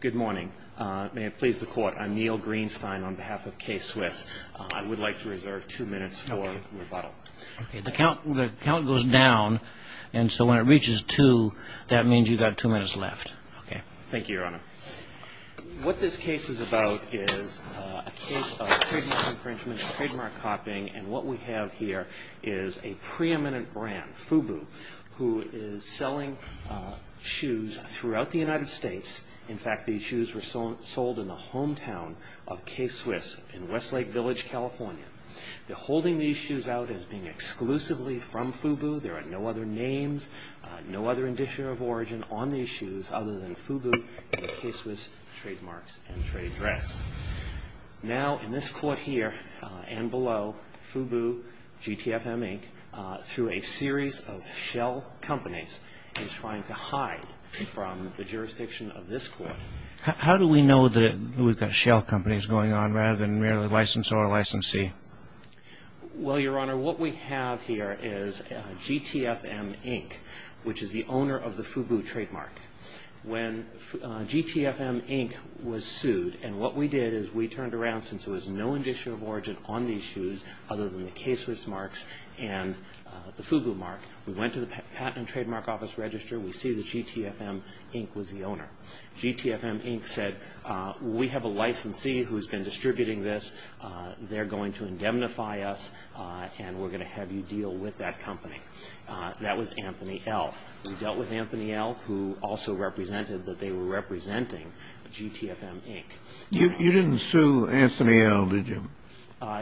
Good morning. May it please the Court, I'm Neil Greenstein on behalf of K-Swiss. I would like to reserve two minutes for rebuttal. The count goes down, and so when it reaches two, that means you've got two minutes left. Thank you, Your Honor. What this case is about is a case of trademark infringement, trademark copying, and what we have here is a preeminent brand, FUBU, who is selling shoes throughout the United States. In fact, these shoes were sold in the hometown of K-Swiss in Westlake Village, California. They're holding these shoes out as being exclusively from FUBU. There are no other names, no other indicator of origin on these shoes other than FUBU and the K-Swiss trademarks and trade address. Now, in this Court here and below, FUBU, GTFM, Inc., through a series of shell companies, is trying to hide from the jurisdiction of this Court. How do we know that we've got shell companies going on rather than merely licensor or licensee? Well, Your Honor, what we have here is GTFM, Inc., which is the owner of the FUBU trademark. When GTFM, Inc. was sued, and what we did is we turned around since there was no indicator of origin on these shoes other than the K-Swiss marks and the FUBU mark. We went to the Patent and Trademark Office Register. We see that GTFM, Inc. was the owner. GTFM, Inc. said, we have a licensee who's been distributing this. They're going to indemnify us, and we're going to have you deal with that company. That was Anthony El. We dealt with Anthony El, who also represented that they were representing GTFM, Inc. You didn't sue Anthony El, did you?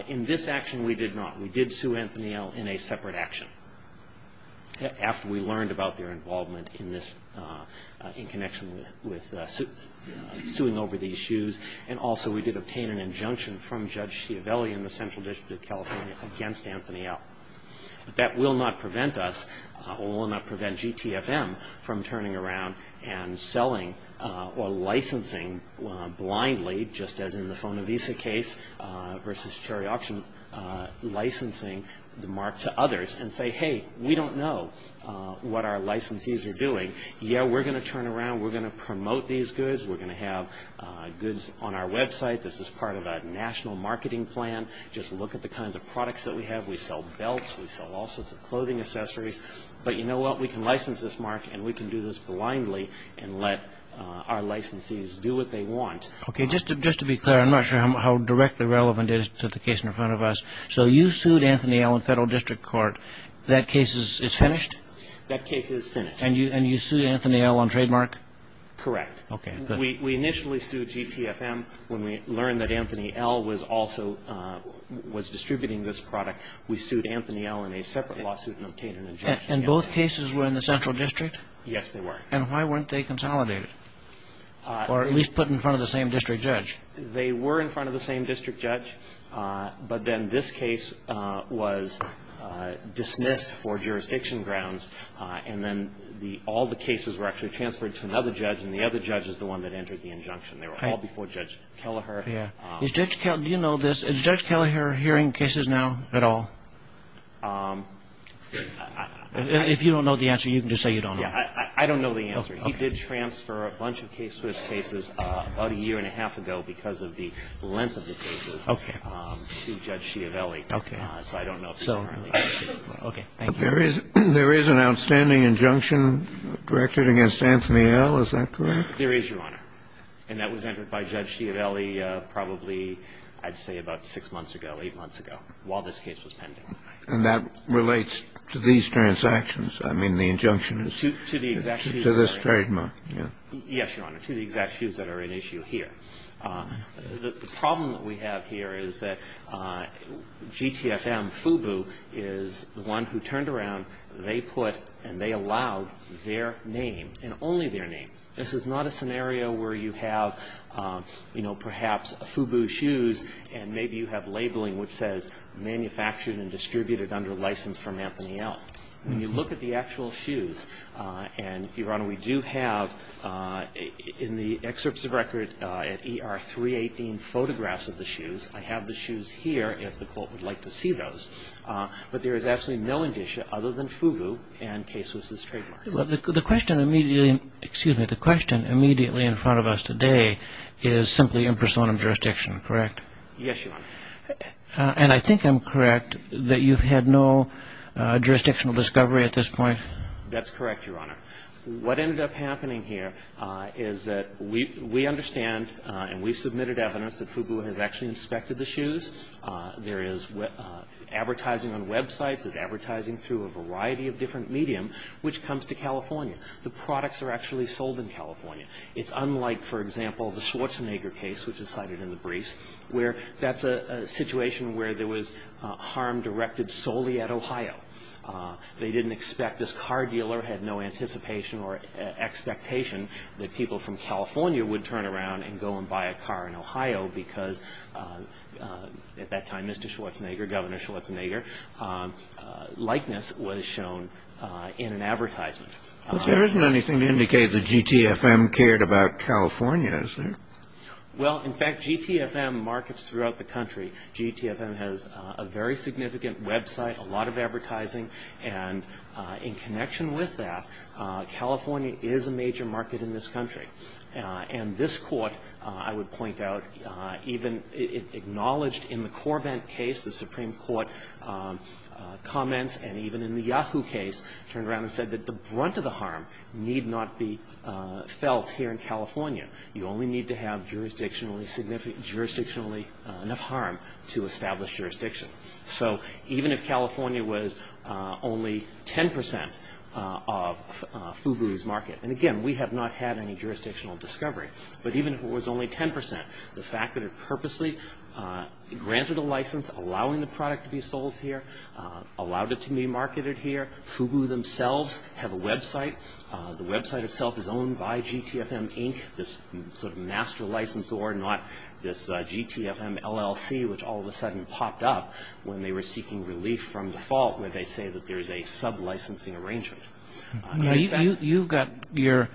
In this action, we did not. We did sue Anthony El in a separate action after we learned about their involvement in this, in connection with suing over these shoes. And also, we did obtain an injunction from Judge Schiavelli in the Central District of California against Anthony El. But that will not prevent us, or will not prevent GTFM, from turning around and selling or licensing blindly, just as in the Fonovisa case versus Cherry Auction, licensing the mark to others and say, hey, we don't know what our licensees are doing. Yeah, we're going to turn around. We're going to promote these goods. We're going to have goods on our website. This is part of a national marketing plan. Just look at the kinds of products that we have. We sell belts. We sell all sorts of clothing accessories. But you know what? We can license this mark, and we can do this blindly and let our licensees do what they want. Okay, just to be clear, I'm not sure how directly relevant it is to the case in front of us. So you sued Anthony El in federal district court. That case is finished? That case is finished. And you sued Anthony El on trademark? Correct. Okay, good. We initially sued GTFM when we learned that Anthony El was also distributing this product. We sued Anthony El in a separate lawsuit and obtained an injunction. And both cases were in the central district? Yes, they were. And why weren't they consolidated or at least put in front of the same district judge? They were in front of the same district judge, but then this case was dismissed for jurisdiction grounds, and then all the cases were actually transferred to another judge, and the other judge is the one that entered the injunction. They were all before Judge Kelleher. Yeah. Do you know this? Is Judge Kelleher hearing cases now at all? If you don't know the answer, you can just say you don't know. Yeah, I don't know the answer. He did transfer a bunch of K-Swiss cases about a year and a half ago because of the length of the cases to Judge Schiavelli. Okay. So I don't know if he's currently hearing cases. Okay, thank you. There is an outstanding injunction directed against Anthony L. Is that correct? There is, Your Honor. And that was entered by Judge Schiavelli probably, I'd say, about six months ago, eight months ago, while this case was pending. And that relates to these transactions. I mean, the injunction is to this trademark. Yes, Your Honor, to the exact shoes that are at issue here. The problem that we have here is that GTFM, FUBU, is the one who turned around. They put and they allowed their name and only their name. This is not a scenario where you have, you know, perhaps FUBU shoes and maybe you have labeling which says manufactured and distributed under license from Anthony L. When you look at the actual shoes and, Your Honor, we do have in the excerpts of record at ER 318 photographs of the shoes. I have the shoes here if the court would like to see those. But there is absolutely no indicia other than FUBU and Case Wiss' trademarks. The question immediately in front of us today is simply in personam jurisdiction, correct? Yes, Your Honor. And I think I'm correct that you've had no jurisdictional discovery at this point? That's correct, Your Honor. What ended up happening here is that we understand and we submitted evidence that FUBU has actually inspected the shoes. There is advertising on websites. It's advertising through a variety of different medium which comes to California. The products are actually sold in California. It's unlike, for example, the Schwarzenegger case, which is cited in the briefs, where that's a situation where there was harm directed solely at Ohio. They didn't expect this car dealer had no anticipation or expectation that people from California would turn around and go and buy a car in Ohio because, at that time, Mr. Schwarzenegger, Governor Schwarzenegger, likeness was shown in an advertisement. But there isn't anything to indicate that GTFM cared about California, is there? Well, in fact, GTFM markets throughout the country. GTFM has a very significant website, a lot of advertising. And in connection with that, California is a major market in this country. And this Court, I would point out, even acknowledged in the Corvent case, the Supreme Court comments, and even in the Yahoo case, turned around and said that the brunt of the harm need not be felt here in California. You only need to have jurisdictionally enough harm to establish jurisdiction. So even if California was only 10 percent of FUBU's market, and again, we have not had any jurisdictional discovery, but even if it was only 10 percent, the fact that it purposely granted a license, allowing the product to be sold here, allowed it to be marketed here, FUBU themselves have a website. The website itself is owned by GTFM, Inc., this sort of master licensor, not this GTFM LLC, which all of a sudden popped up when they were seeking relief from default, where they say that there is a sub-licensing arrangement. You've got your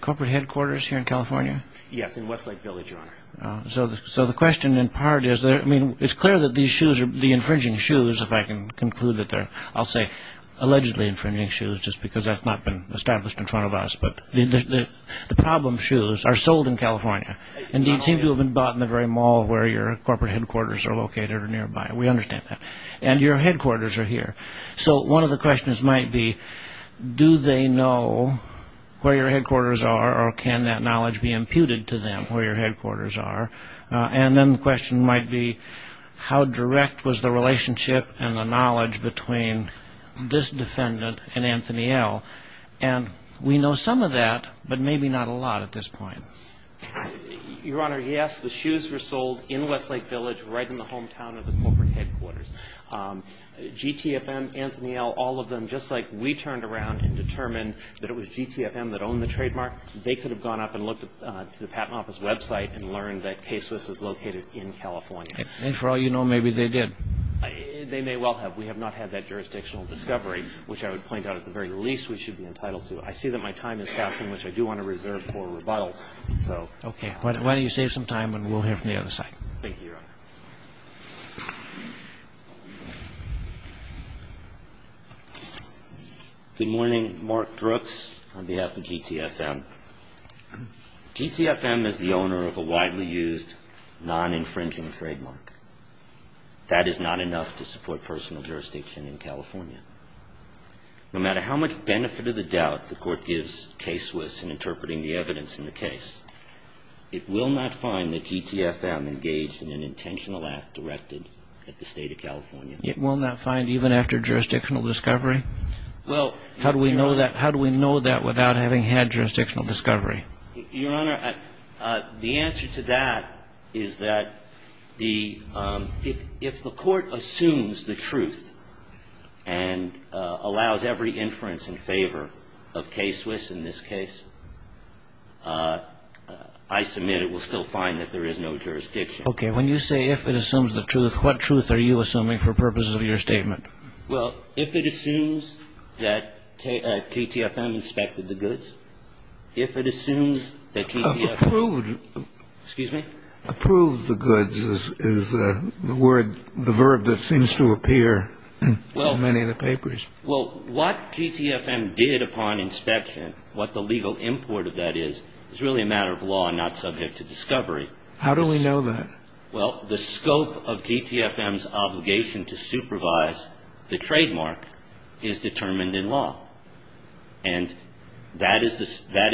corporate headquarters here in California? Yes, in Westlake Village, Your Honor. So the question in part is, it's clear that the infringing shoes, if I can conclude it there, I'll say allegedly infringing shoes, just because that's not been established in front of us, but the problem shoes are sold in California, and they seem to have been bought in the very mall where your corporate headquarters are located or nearby. We understand that. And your headquarters are here. So one of the questions might be, do they know where your headquarters are, or can that knowledge be imputed to them where your headquarters are? And then the question might be, how direct was the relationship and the knowledge between this defendant and Anthony L.? And we know some of that, but maybe not a lot at this point. Your Honor, yes, the shoes were sold in Westlake Village, right in the hometown of the corporate headquarters. GTFM, Anthony L., all of them, just like we turned around and determined that it was GTFM that owned the trademark, they could have gone up and looked at the Patent Office website and learned that K-Swiss was located in California. And for all you know, maybe they did. They may well have. We have not had that jurisdictional discovery, which I would point out at the very least we should be entitled to. I see that my time is passing, which I do want to reserve for rebuttal. Okay. Why don't you save some time, and we'll hear from the other side. Thank you, Your Honor. Good morning. Mark Brooks on behalf of GTFM. GTFM is the owner of a widely used, non-infringing trademark. That is not enough to support personal jurisdiction in California. No matter how much benefit of the doubt the Court gives K-Swiss in interpreting the evidence in the case, it will not find that GTFM engaged in an intentional act directed at the State of California. It will not find even after jurisdictional discovery? Well, Your Honor. How do we know that without having had jurisdictional discovery? Your Honor, the answer to that is that if the Court assumes the truth and allows every inference in favor of K-Swiss in this case, I submit it will still find that there is no jurisdiction. Okay. When you say if it assumes the truth, what truth are you assuming for purposes of your statement? Well, if it assumes that KTFM inspected the goods, if it assumes that KTFM ---- Approved. Excuse me? Approved the goods is the word, the verb that seems to appear in many of the papers. Well, what GTFM did upon inspection, what the legal import of that is, is really a matter of law and not subject to discovery. How do we know that? Well, the scope of GTFM's obligation to supervise the trademark is determined in law. And that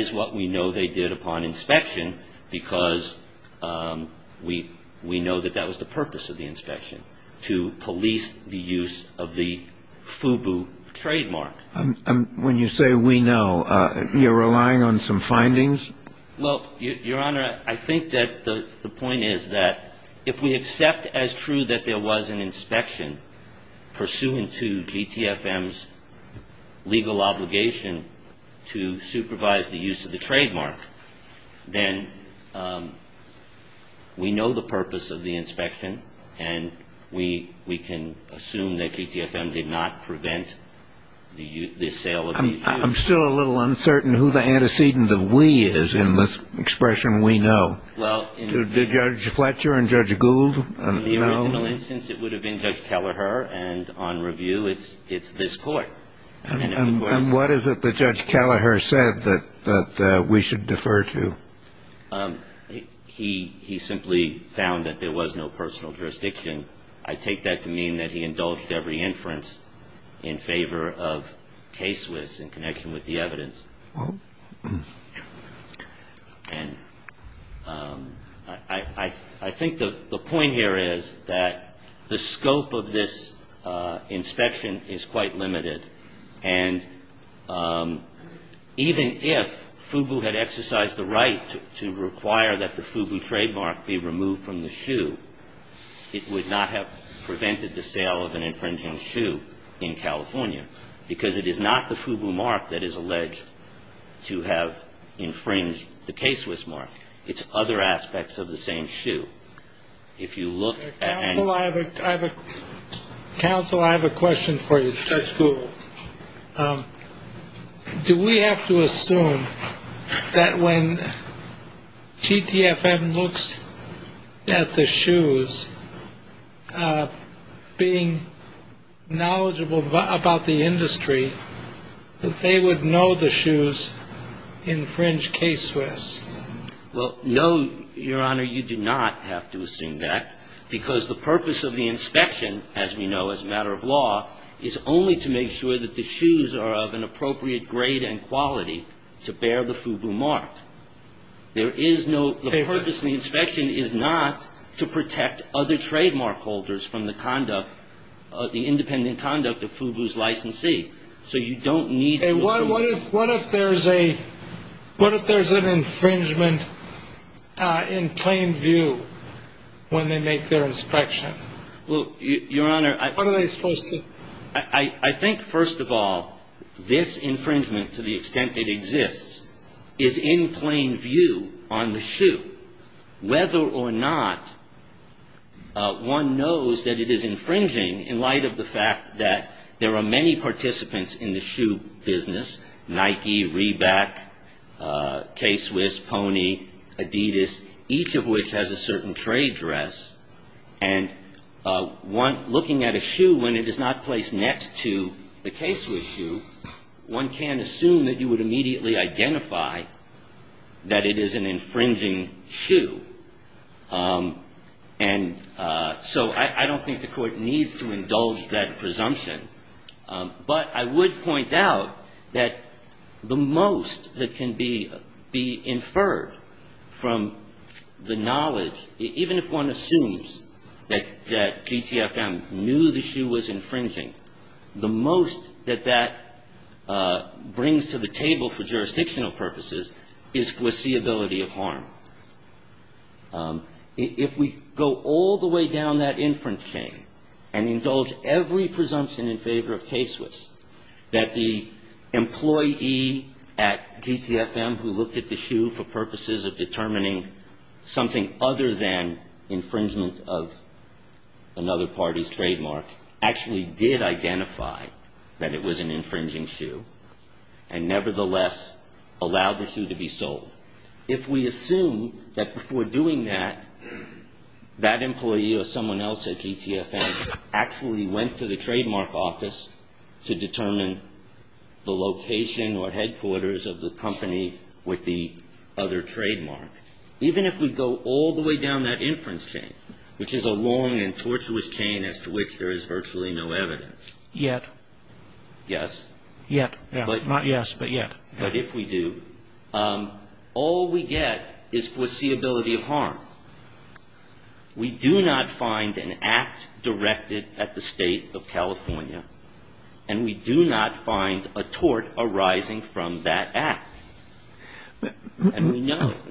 is what we know they did upon inspection, because we know that that was the purpose of the inspection, to police the use of the FUBU trademark. And when you say we know, you're relying on some findings? Well, Your Honor, I think that the point is that if we accept as true that there was an inspection pursuant to GTFM's legal obligation to supervise the use of the trademark, then we know the purpose of the inspection, and we can assume that GTFM did not prevent the sale of the FUBU. I'm still a little uncertain who the antecedent of we is in this expression we know. Did Judge Fletcher and Judge Gould know? On the original instance, it would have been Judge Kelleher. And on review, it's this Court. And what is it that Judge Kelleher said that we should defer to? He simply found that there was no personal jurisdiction. I take that to mean that he indulged every inference in favor of K-Swiss in connection with the evidence. And I think the point here is that the scope of this inspection is quite limited. And even if FUBU had exercised the right to require that the FUBU trademark be removed from the shoe, it would not have prevented the sale of an infringing shoe in California because it is not the FUBU mark that is alleged to have infringed the K-Swiss mark. It's other aspects of the same shoe. If you look at any- Counsel, I have a question for you. Judge Gould. Do we have to assume that when GTFM looks at the shoes, being knowledgeable about the industry, that they would know the shoes infringe K-Swiss? Well, no, Your Honor, you do not have to assume that because the purpose of the inspection, as we know as a matter of law, is only to make sure that the shoes are of an appropriate grade and quality to bear the FUBU mark. The purpose of the inspection is not to protect other trademark holders from the independent conduct of FUBU's licensee. So you don't need to assume- What if there's an infringement in plain view when they make their inspection? Well, Your Honor- What are they supposed to- I think, first of all, this infringement, to the extent it exists, is in plain view on the shoe. Whether or not one knows that it is infringing in light of the fact that there are many participants in the shoe business, Nike, Reback, K-Swiss, Pony, Adidas, each of which has a certain trade dress, and looking at a shoe when it is not placed next to a K-Swiss shoe, one can assume that you would immediately identify that it is an infringing shoe. And so I don't think the Court needs to indulge that presumption. But I would point out that the most that can be inferred from the knowledge, even if one assumes that GTFM knew the shoe was infringing, the most that that brings to the table for jurisdictional purposes is foreseeability of harm. If we go all the way down that inference chain and indulge every presumption in favor of K-Swiss that the employee at GTFM who looked at the shoe for purposes of determining something other than infringement of another party's trademark actually did identify that it was an infringing shoe and nevertheless allowed the shoe to be sold. If we assume that before doing that, that employee or someone else at GTFM actually went to the trademark office to determine the location or headquarters of the company with the other trademark, even if we go all the way down that inference chain, which is a long and tortuous chain as to which there is virtually no evidence. Yet. Yes. Yet. Not yes, but yet. But if we do, all we get is foreseeability of harm. We do not find an act directed at the State of California, and we do not find a tort arising from that act. And we know that.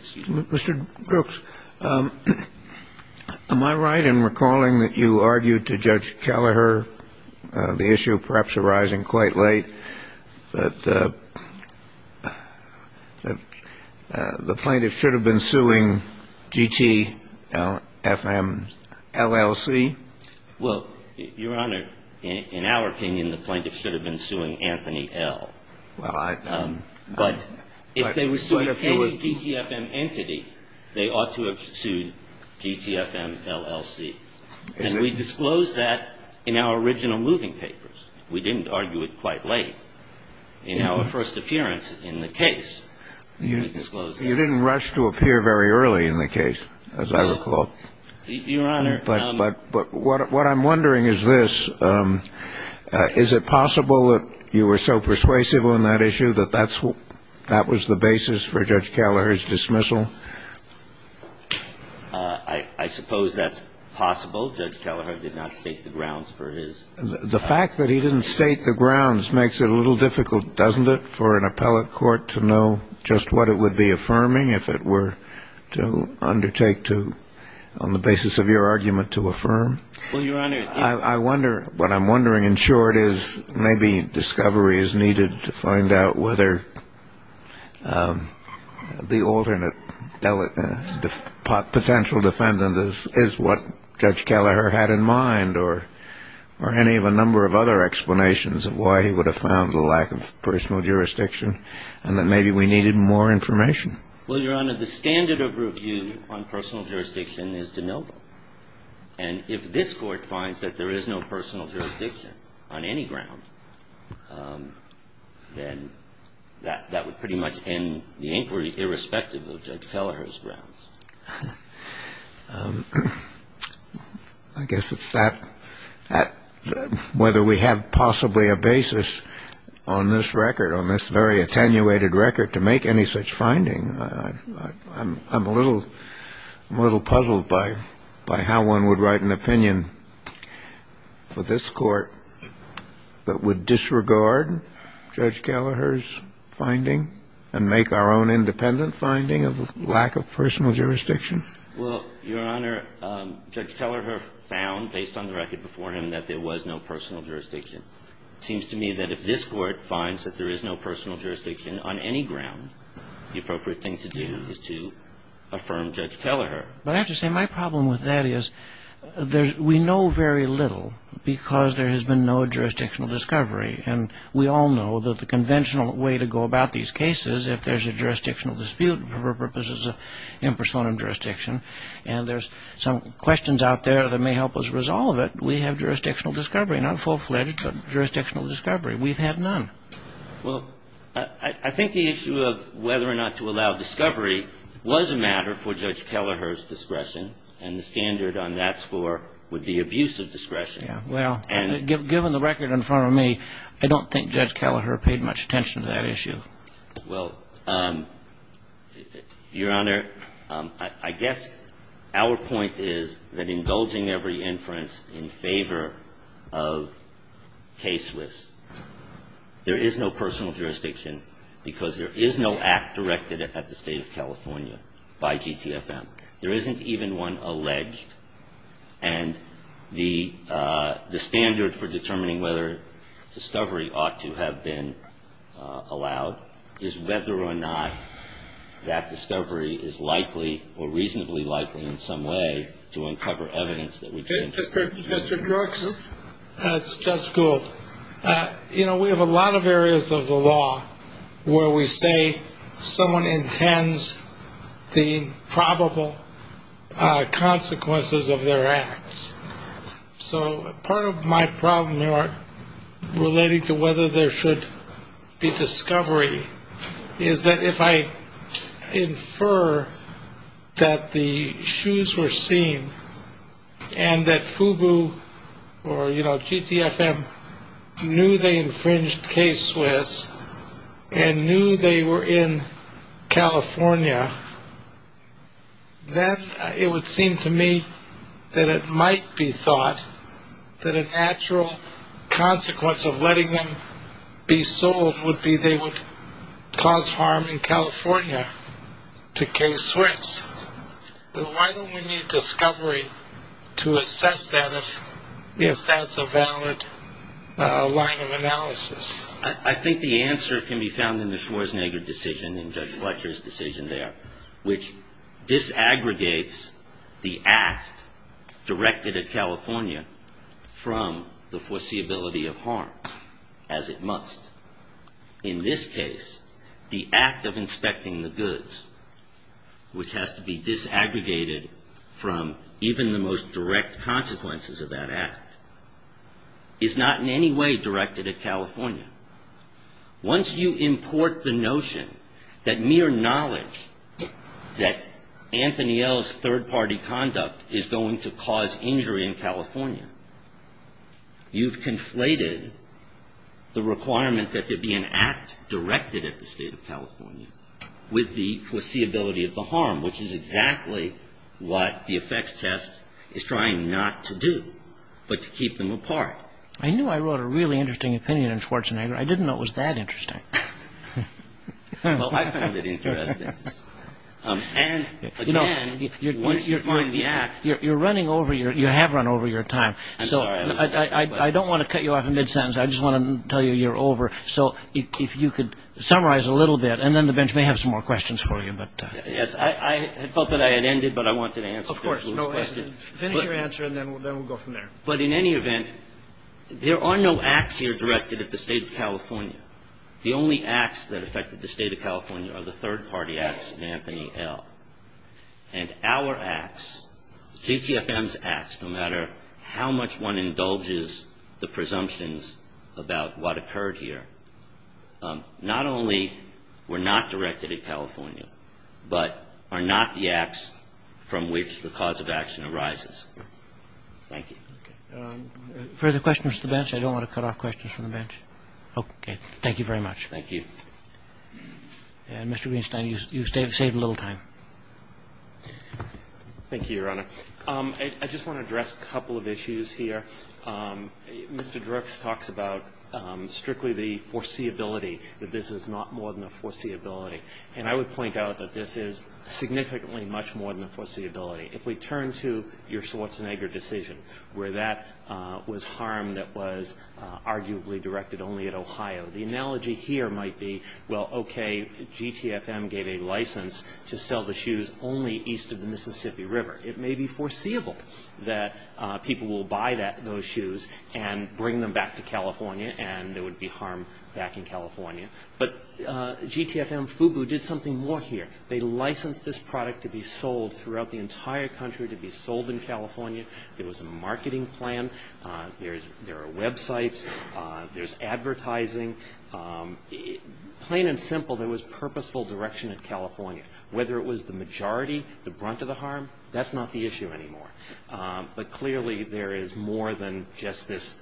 Mr. Brooks, am I right in recalling that you argued to Judge Kelleher the issue perhaps arising quite late that the plaintiff should have been suing GTFM LLC? Well, Your Honor, in our opinion, the plaintiff should have been suing Anthony L. Well, I. But if they were suing any GTFM entity, they ought to have sued GTFM LLC. And we disclosed that in our original moving papers. We didn't argue it quite late in our first appearance in the case. We disclosed that. You didn't rush to appear very early in the case, as I recall. Your Honor. But what I'm wondering is this. Is it possible that you were so persuasive on that issue that that was the basis for Judge Kelleher's dismissal? I suppose that's possible. Judge Kelleher did not stake the grounds for his. The fact that he didn't stake the grounds makes it a little difficult, doesn't it, for an appellate court to know just what it would be affirming if it were to undertake to, on the basis of your argument, to affirm? Well, Your Honor. I wonder. What I'm wondering, in short, is maybe discovery is needed to find out whether the alternate, the potential defendant is what Judge Kelleher had in mind, or any of a number of other explanations of why he would have found the lack of personal jurisdiction, and that maybe we needed more information. Well, Your Honor, the standard of review on personal jurisdiction is de novo. And if this Court finds that there is no personal jurisdiction on any ground, then that would pretty much end the inquiry, irrespective of Judge Kelleher's grounds. I guess it's that, whether we have possibly a basis on this record, on this very attenuated record, to make any such finding. I'm a little puzzled by how one would write an opinion for this Court that would say, that would disregard Judge Kelleher's finding and make our own independent finding of the lack of personal jurisdiction. Well, Your Honor, Judge Kelleher found, based on the record before him, that there was no personal jurisdiction. It seems to me that if this Court finds that there is no personal jurisdiction on any ground, the appropriate thing to do is to affirm Judge Kelleher. But I have to say, my problem with that is, we know very little, because there has been no jurisdictional discovery. And we all know that the conventional way to go about these cases, if there's a jurisdictional dispute for purposes of impersonal jurisdiction, and there's some questions out there that may help us resolve it, we have jurisdictional discovery. Not full-fledged, but jurisdictional discovery. We've had none. Well, I think the issue of whether or not to allow discovery was a matter for Judge Kelleher's discretion, and the standard on that score would be abuse of discretion. Yeah. Well, given the record in front of me, I don't think Judge Kelleher paid much attention to that issue. Well, Your Honor, I guess our point is that indulging every inference in favor of case risk. There is no personal jurisdiction, because there is no act directed at the State of California by GTFM. There isn't even one alleged. And the standard for determining whether discovery ought to have been allowed is whether or not that discovery is likely or reasonably likely in some way to uncover evidence that we can. Mr. Brooks? It's Judge Gould. You know, we have a lot of areas of the law where we say someone intends the probable consequences of their acts. So part of my problem, Your Honor, relating to whether there should be discovery, is that if I infer that the shoes were seen and that FUBU or, you know, GTFM knew they infringed case risk and knew they were in California, then it would seem to me that it might be thought that a natural consequence of letting them be sold would be they would cause harm in California to case risk. Why don't we need discovery to assess that if that's a valid line of analysis? I think the answer can be found in the Schwarzenegger decision and Judge Fletcher's decision there, which disaggregates the act directed at California from the foreseeability of harm as it must. In this case, the act of inspecting the goods, which has to be disaggregated from even the most direct consequences of that act, is not in any way directed at California. Once you import the notion that mere knowledge that Anthony L.'s third-party conduct is going to cause injury in California, you've conflated the requirement that there be an act directed at the State of California with the foreseeability of the harm, which is exactly what the effects test is trying not to do, but to keep them apart. I knew I wrote a really interesting opinion on Schwarzenegger. I didn't know it was that interesting. Well, I found it interesting. And, again, once you find the act... You're running over your... you have run over your time. I'm sorry. I don't want to cut you off in mid-sentence. I just want to tell you you're over. So if you could summarize a little bit, and then the bench may have some more questions for you. Yes, I felt that I had ended, but I wanted to answer... Of course. Finish your answer, and then we'll go from there. But, in any event, there are no acts here directed at the State of California. The only acts that affected the State of California are the third-party acts of Anthony L. And our acts, GTFM's acts, no matter how much one indulges the presumptions about what occurred here, not only were not directed at California, but are not the acts from which the cause of action arises. Thank you. Okay. Further questions to the bench? I don't want to cut off questions from the bench. Okay. Thank you very much. Thank you. And, Mr. Greenstein, you've saved a little time. Thank you, Your Honor. I just want to address a couple of issues here. Mr. Drix talks about strictly the foreseeability, that this is not more than a foreseeability. And I would point out that this is significantly much more than a foreseeability. If we turn to your Schwarzenegger decision, where that was harm that was arguably directed only at Ohio, the analogy here might be, well, okay, GTFM gave a license to sell the shoes only east of the Mississippi River. It may be foreseeable that people will buy those shoes and bring them back to California, and there would be harm back in California. But GTFM, FUBU, did something more here. They licensed this product to be sold throughout the entire country, to be sold in California. There was a marketing plan. There are websites. There's advertising. Plain and simple, there was purposeful direction in California. Whether it was the majority, the brunt of the harm, that's not the issue anymore. But clearly there is more than just this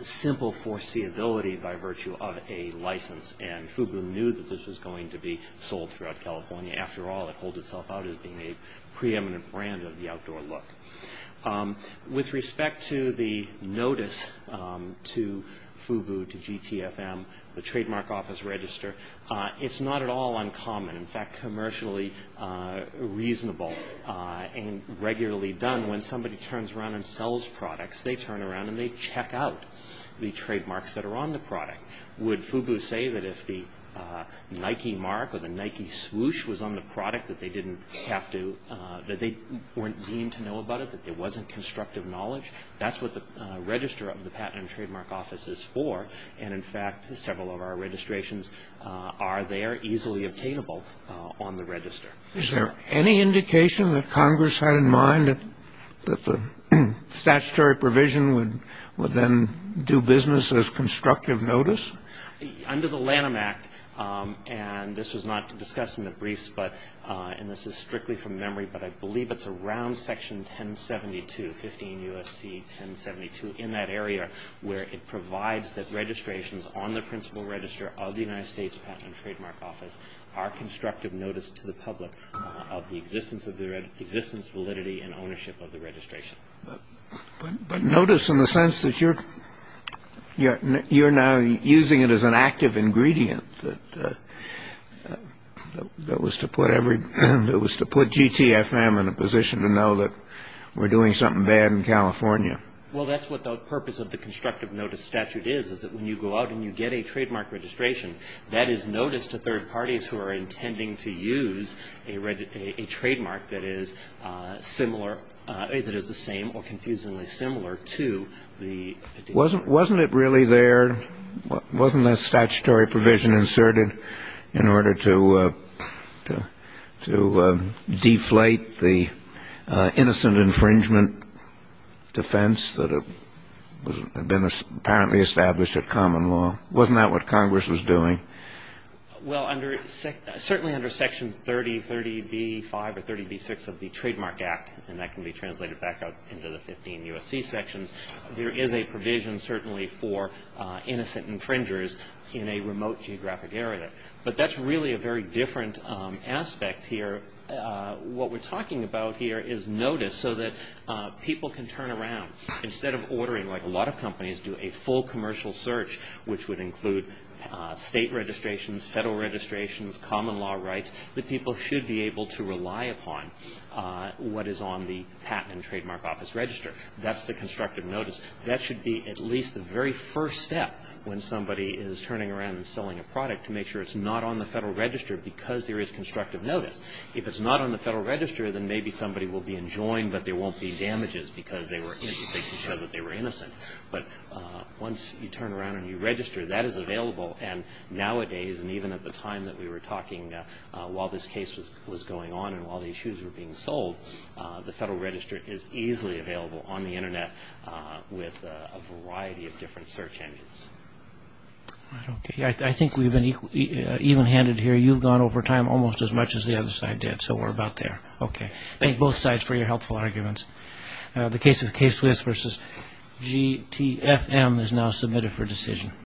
simple foreseeability by virtue of a license, and FUBU knew that this was going to be sold throughout California. After all, it holds itself out as being a preeminent brand of the outdoor look. With respect to the notice to FUBU, to GTFM, the Trademark Office Register, it's not at all uncommon. In fact, commercially reasonable and regularly done, when somebody turns around and sells products, they turn around and they check out the trademarks that are on the product. Would FUBU say that if the Nike mark or the Nike swoosh was on the product that they didn't have to, that they weren't deemed to know about it, that there wasn't constructive knowledge? That's what the register of the Patent and Trademark Office is for. And, in fact, several of our registrations are there, easily obtainable on the register. The statutory provision would then do business as constructive notice? Under the Lanham Act, and this was not discussed in the briefs, and this is strictly from memory, but I believe it's around Section 1072, 15 U.S.C. 1072, in that area, where it provides that registrations on the principal register of the United States Patent and Trademark Office are constructive notice to the public of the existence, validity, and ownership of the registration. But notice in the sense that you're now using it as an active ingredient that was to put GTFM in a position to know that we're doing something bad in California. Well, that's what the purpose of the constructive notice statute is, is that when you go out and you get a trademark registration, that is notice to third parties who are intending to use a trademark that is similar, that is the same or confusingly similar to the original. Wasn't it really there? Wasn't that statutory provision inserted in order to deflate the innocent infringement defense that had been apparently established at common law? Wasn't that what Congress was doing? Well, certainly under Section 3035 or 3036 of the Trademark Act, and that can be translated back out into the 15 U.S.C. sections, there is a provision certainly for innocent infringers in a remote geographic area. But that's really a very different aspect here. What we're talking about here is notice so that people can turn around. Instead of ordering like a lot of companies do a full commercial search, which would include state registrations, federal registrations, common law rights, that people should be able to rely upon what is on the patent and trademark office register. That's the constructive notice. That should be at least the very first step when somebody is turning around and selling a product to make sure it's not on the federal register because there is constructive notice. If it's not on the federal register, then maybe somebody will be enjoined, but there won't be damages because they can show that they were innocent. But once you turn around and you register, that is available, and nowadays and even at the time that we were talking while this case was going on and while these shoes were being sold, the federal register is easily available on the Internet with a variety of different search engines. I think we've been even-handed here. You've gone over time almost as much as the other side did, so we're about there. Okay. Thank both sides for your helpful arguments. The case of the case list versus GTFM is now submitted for decision.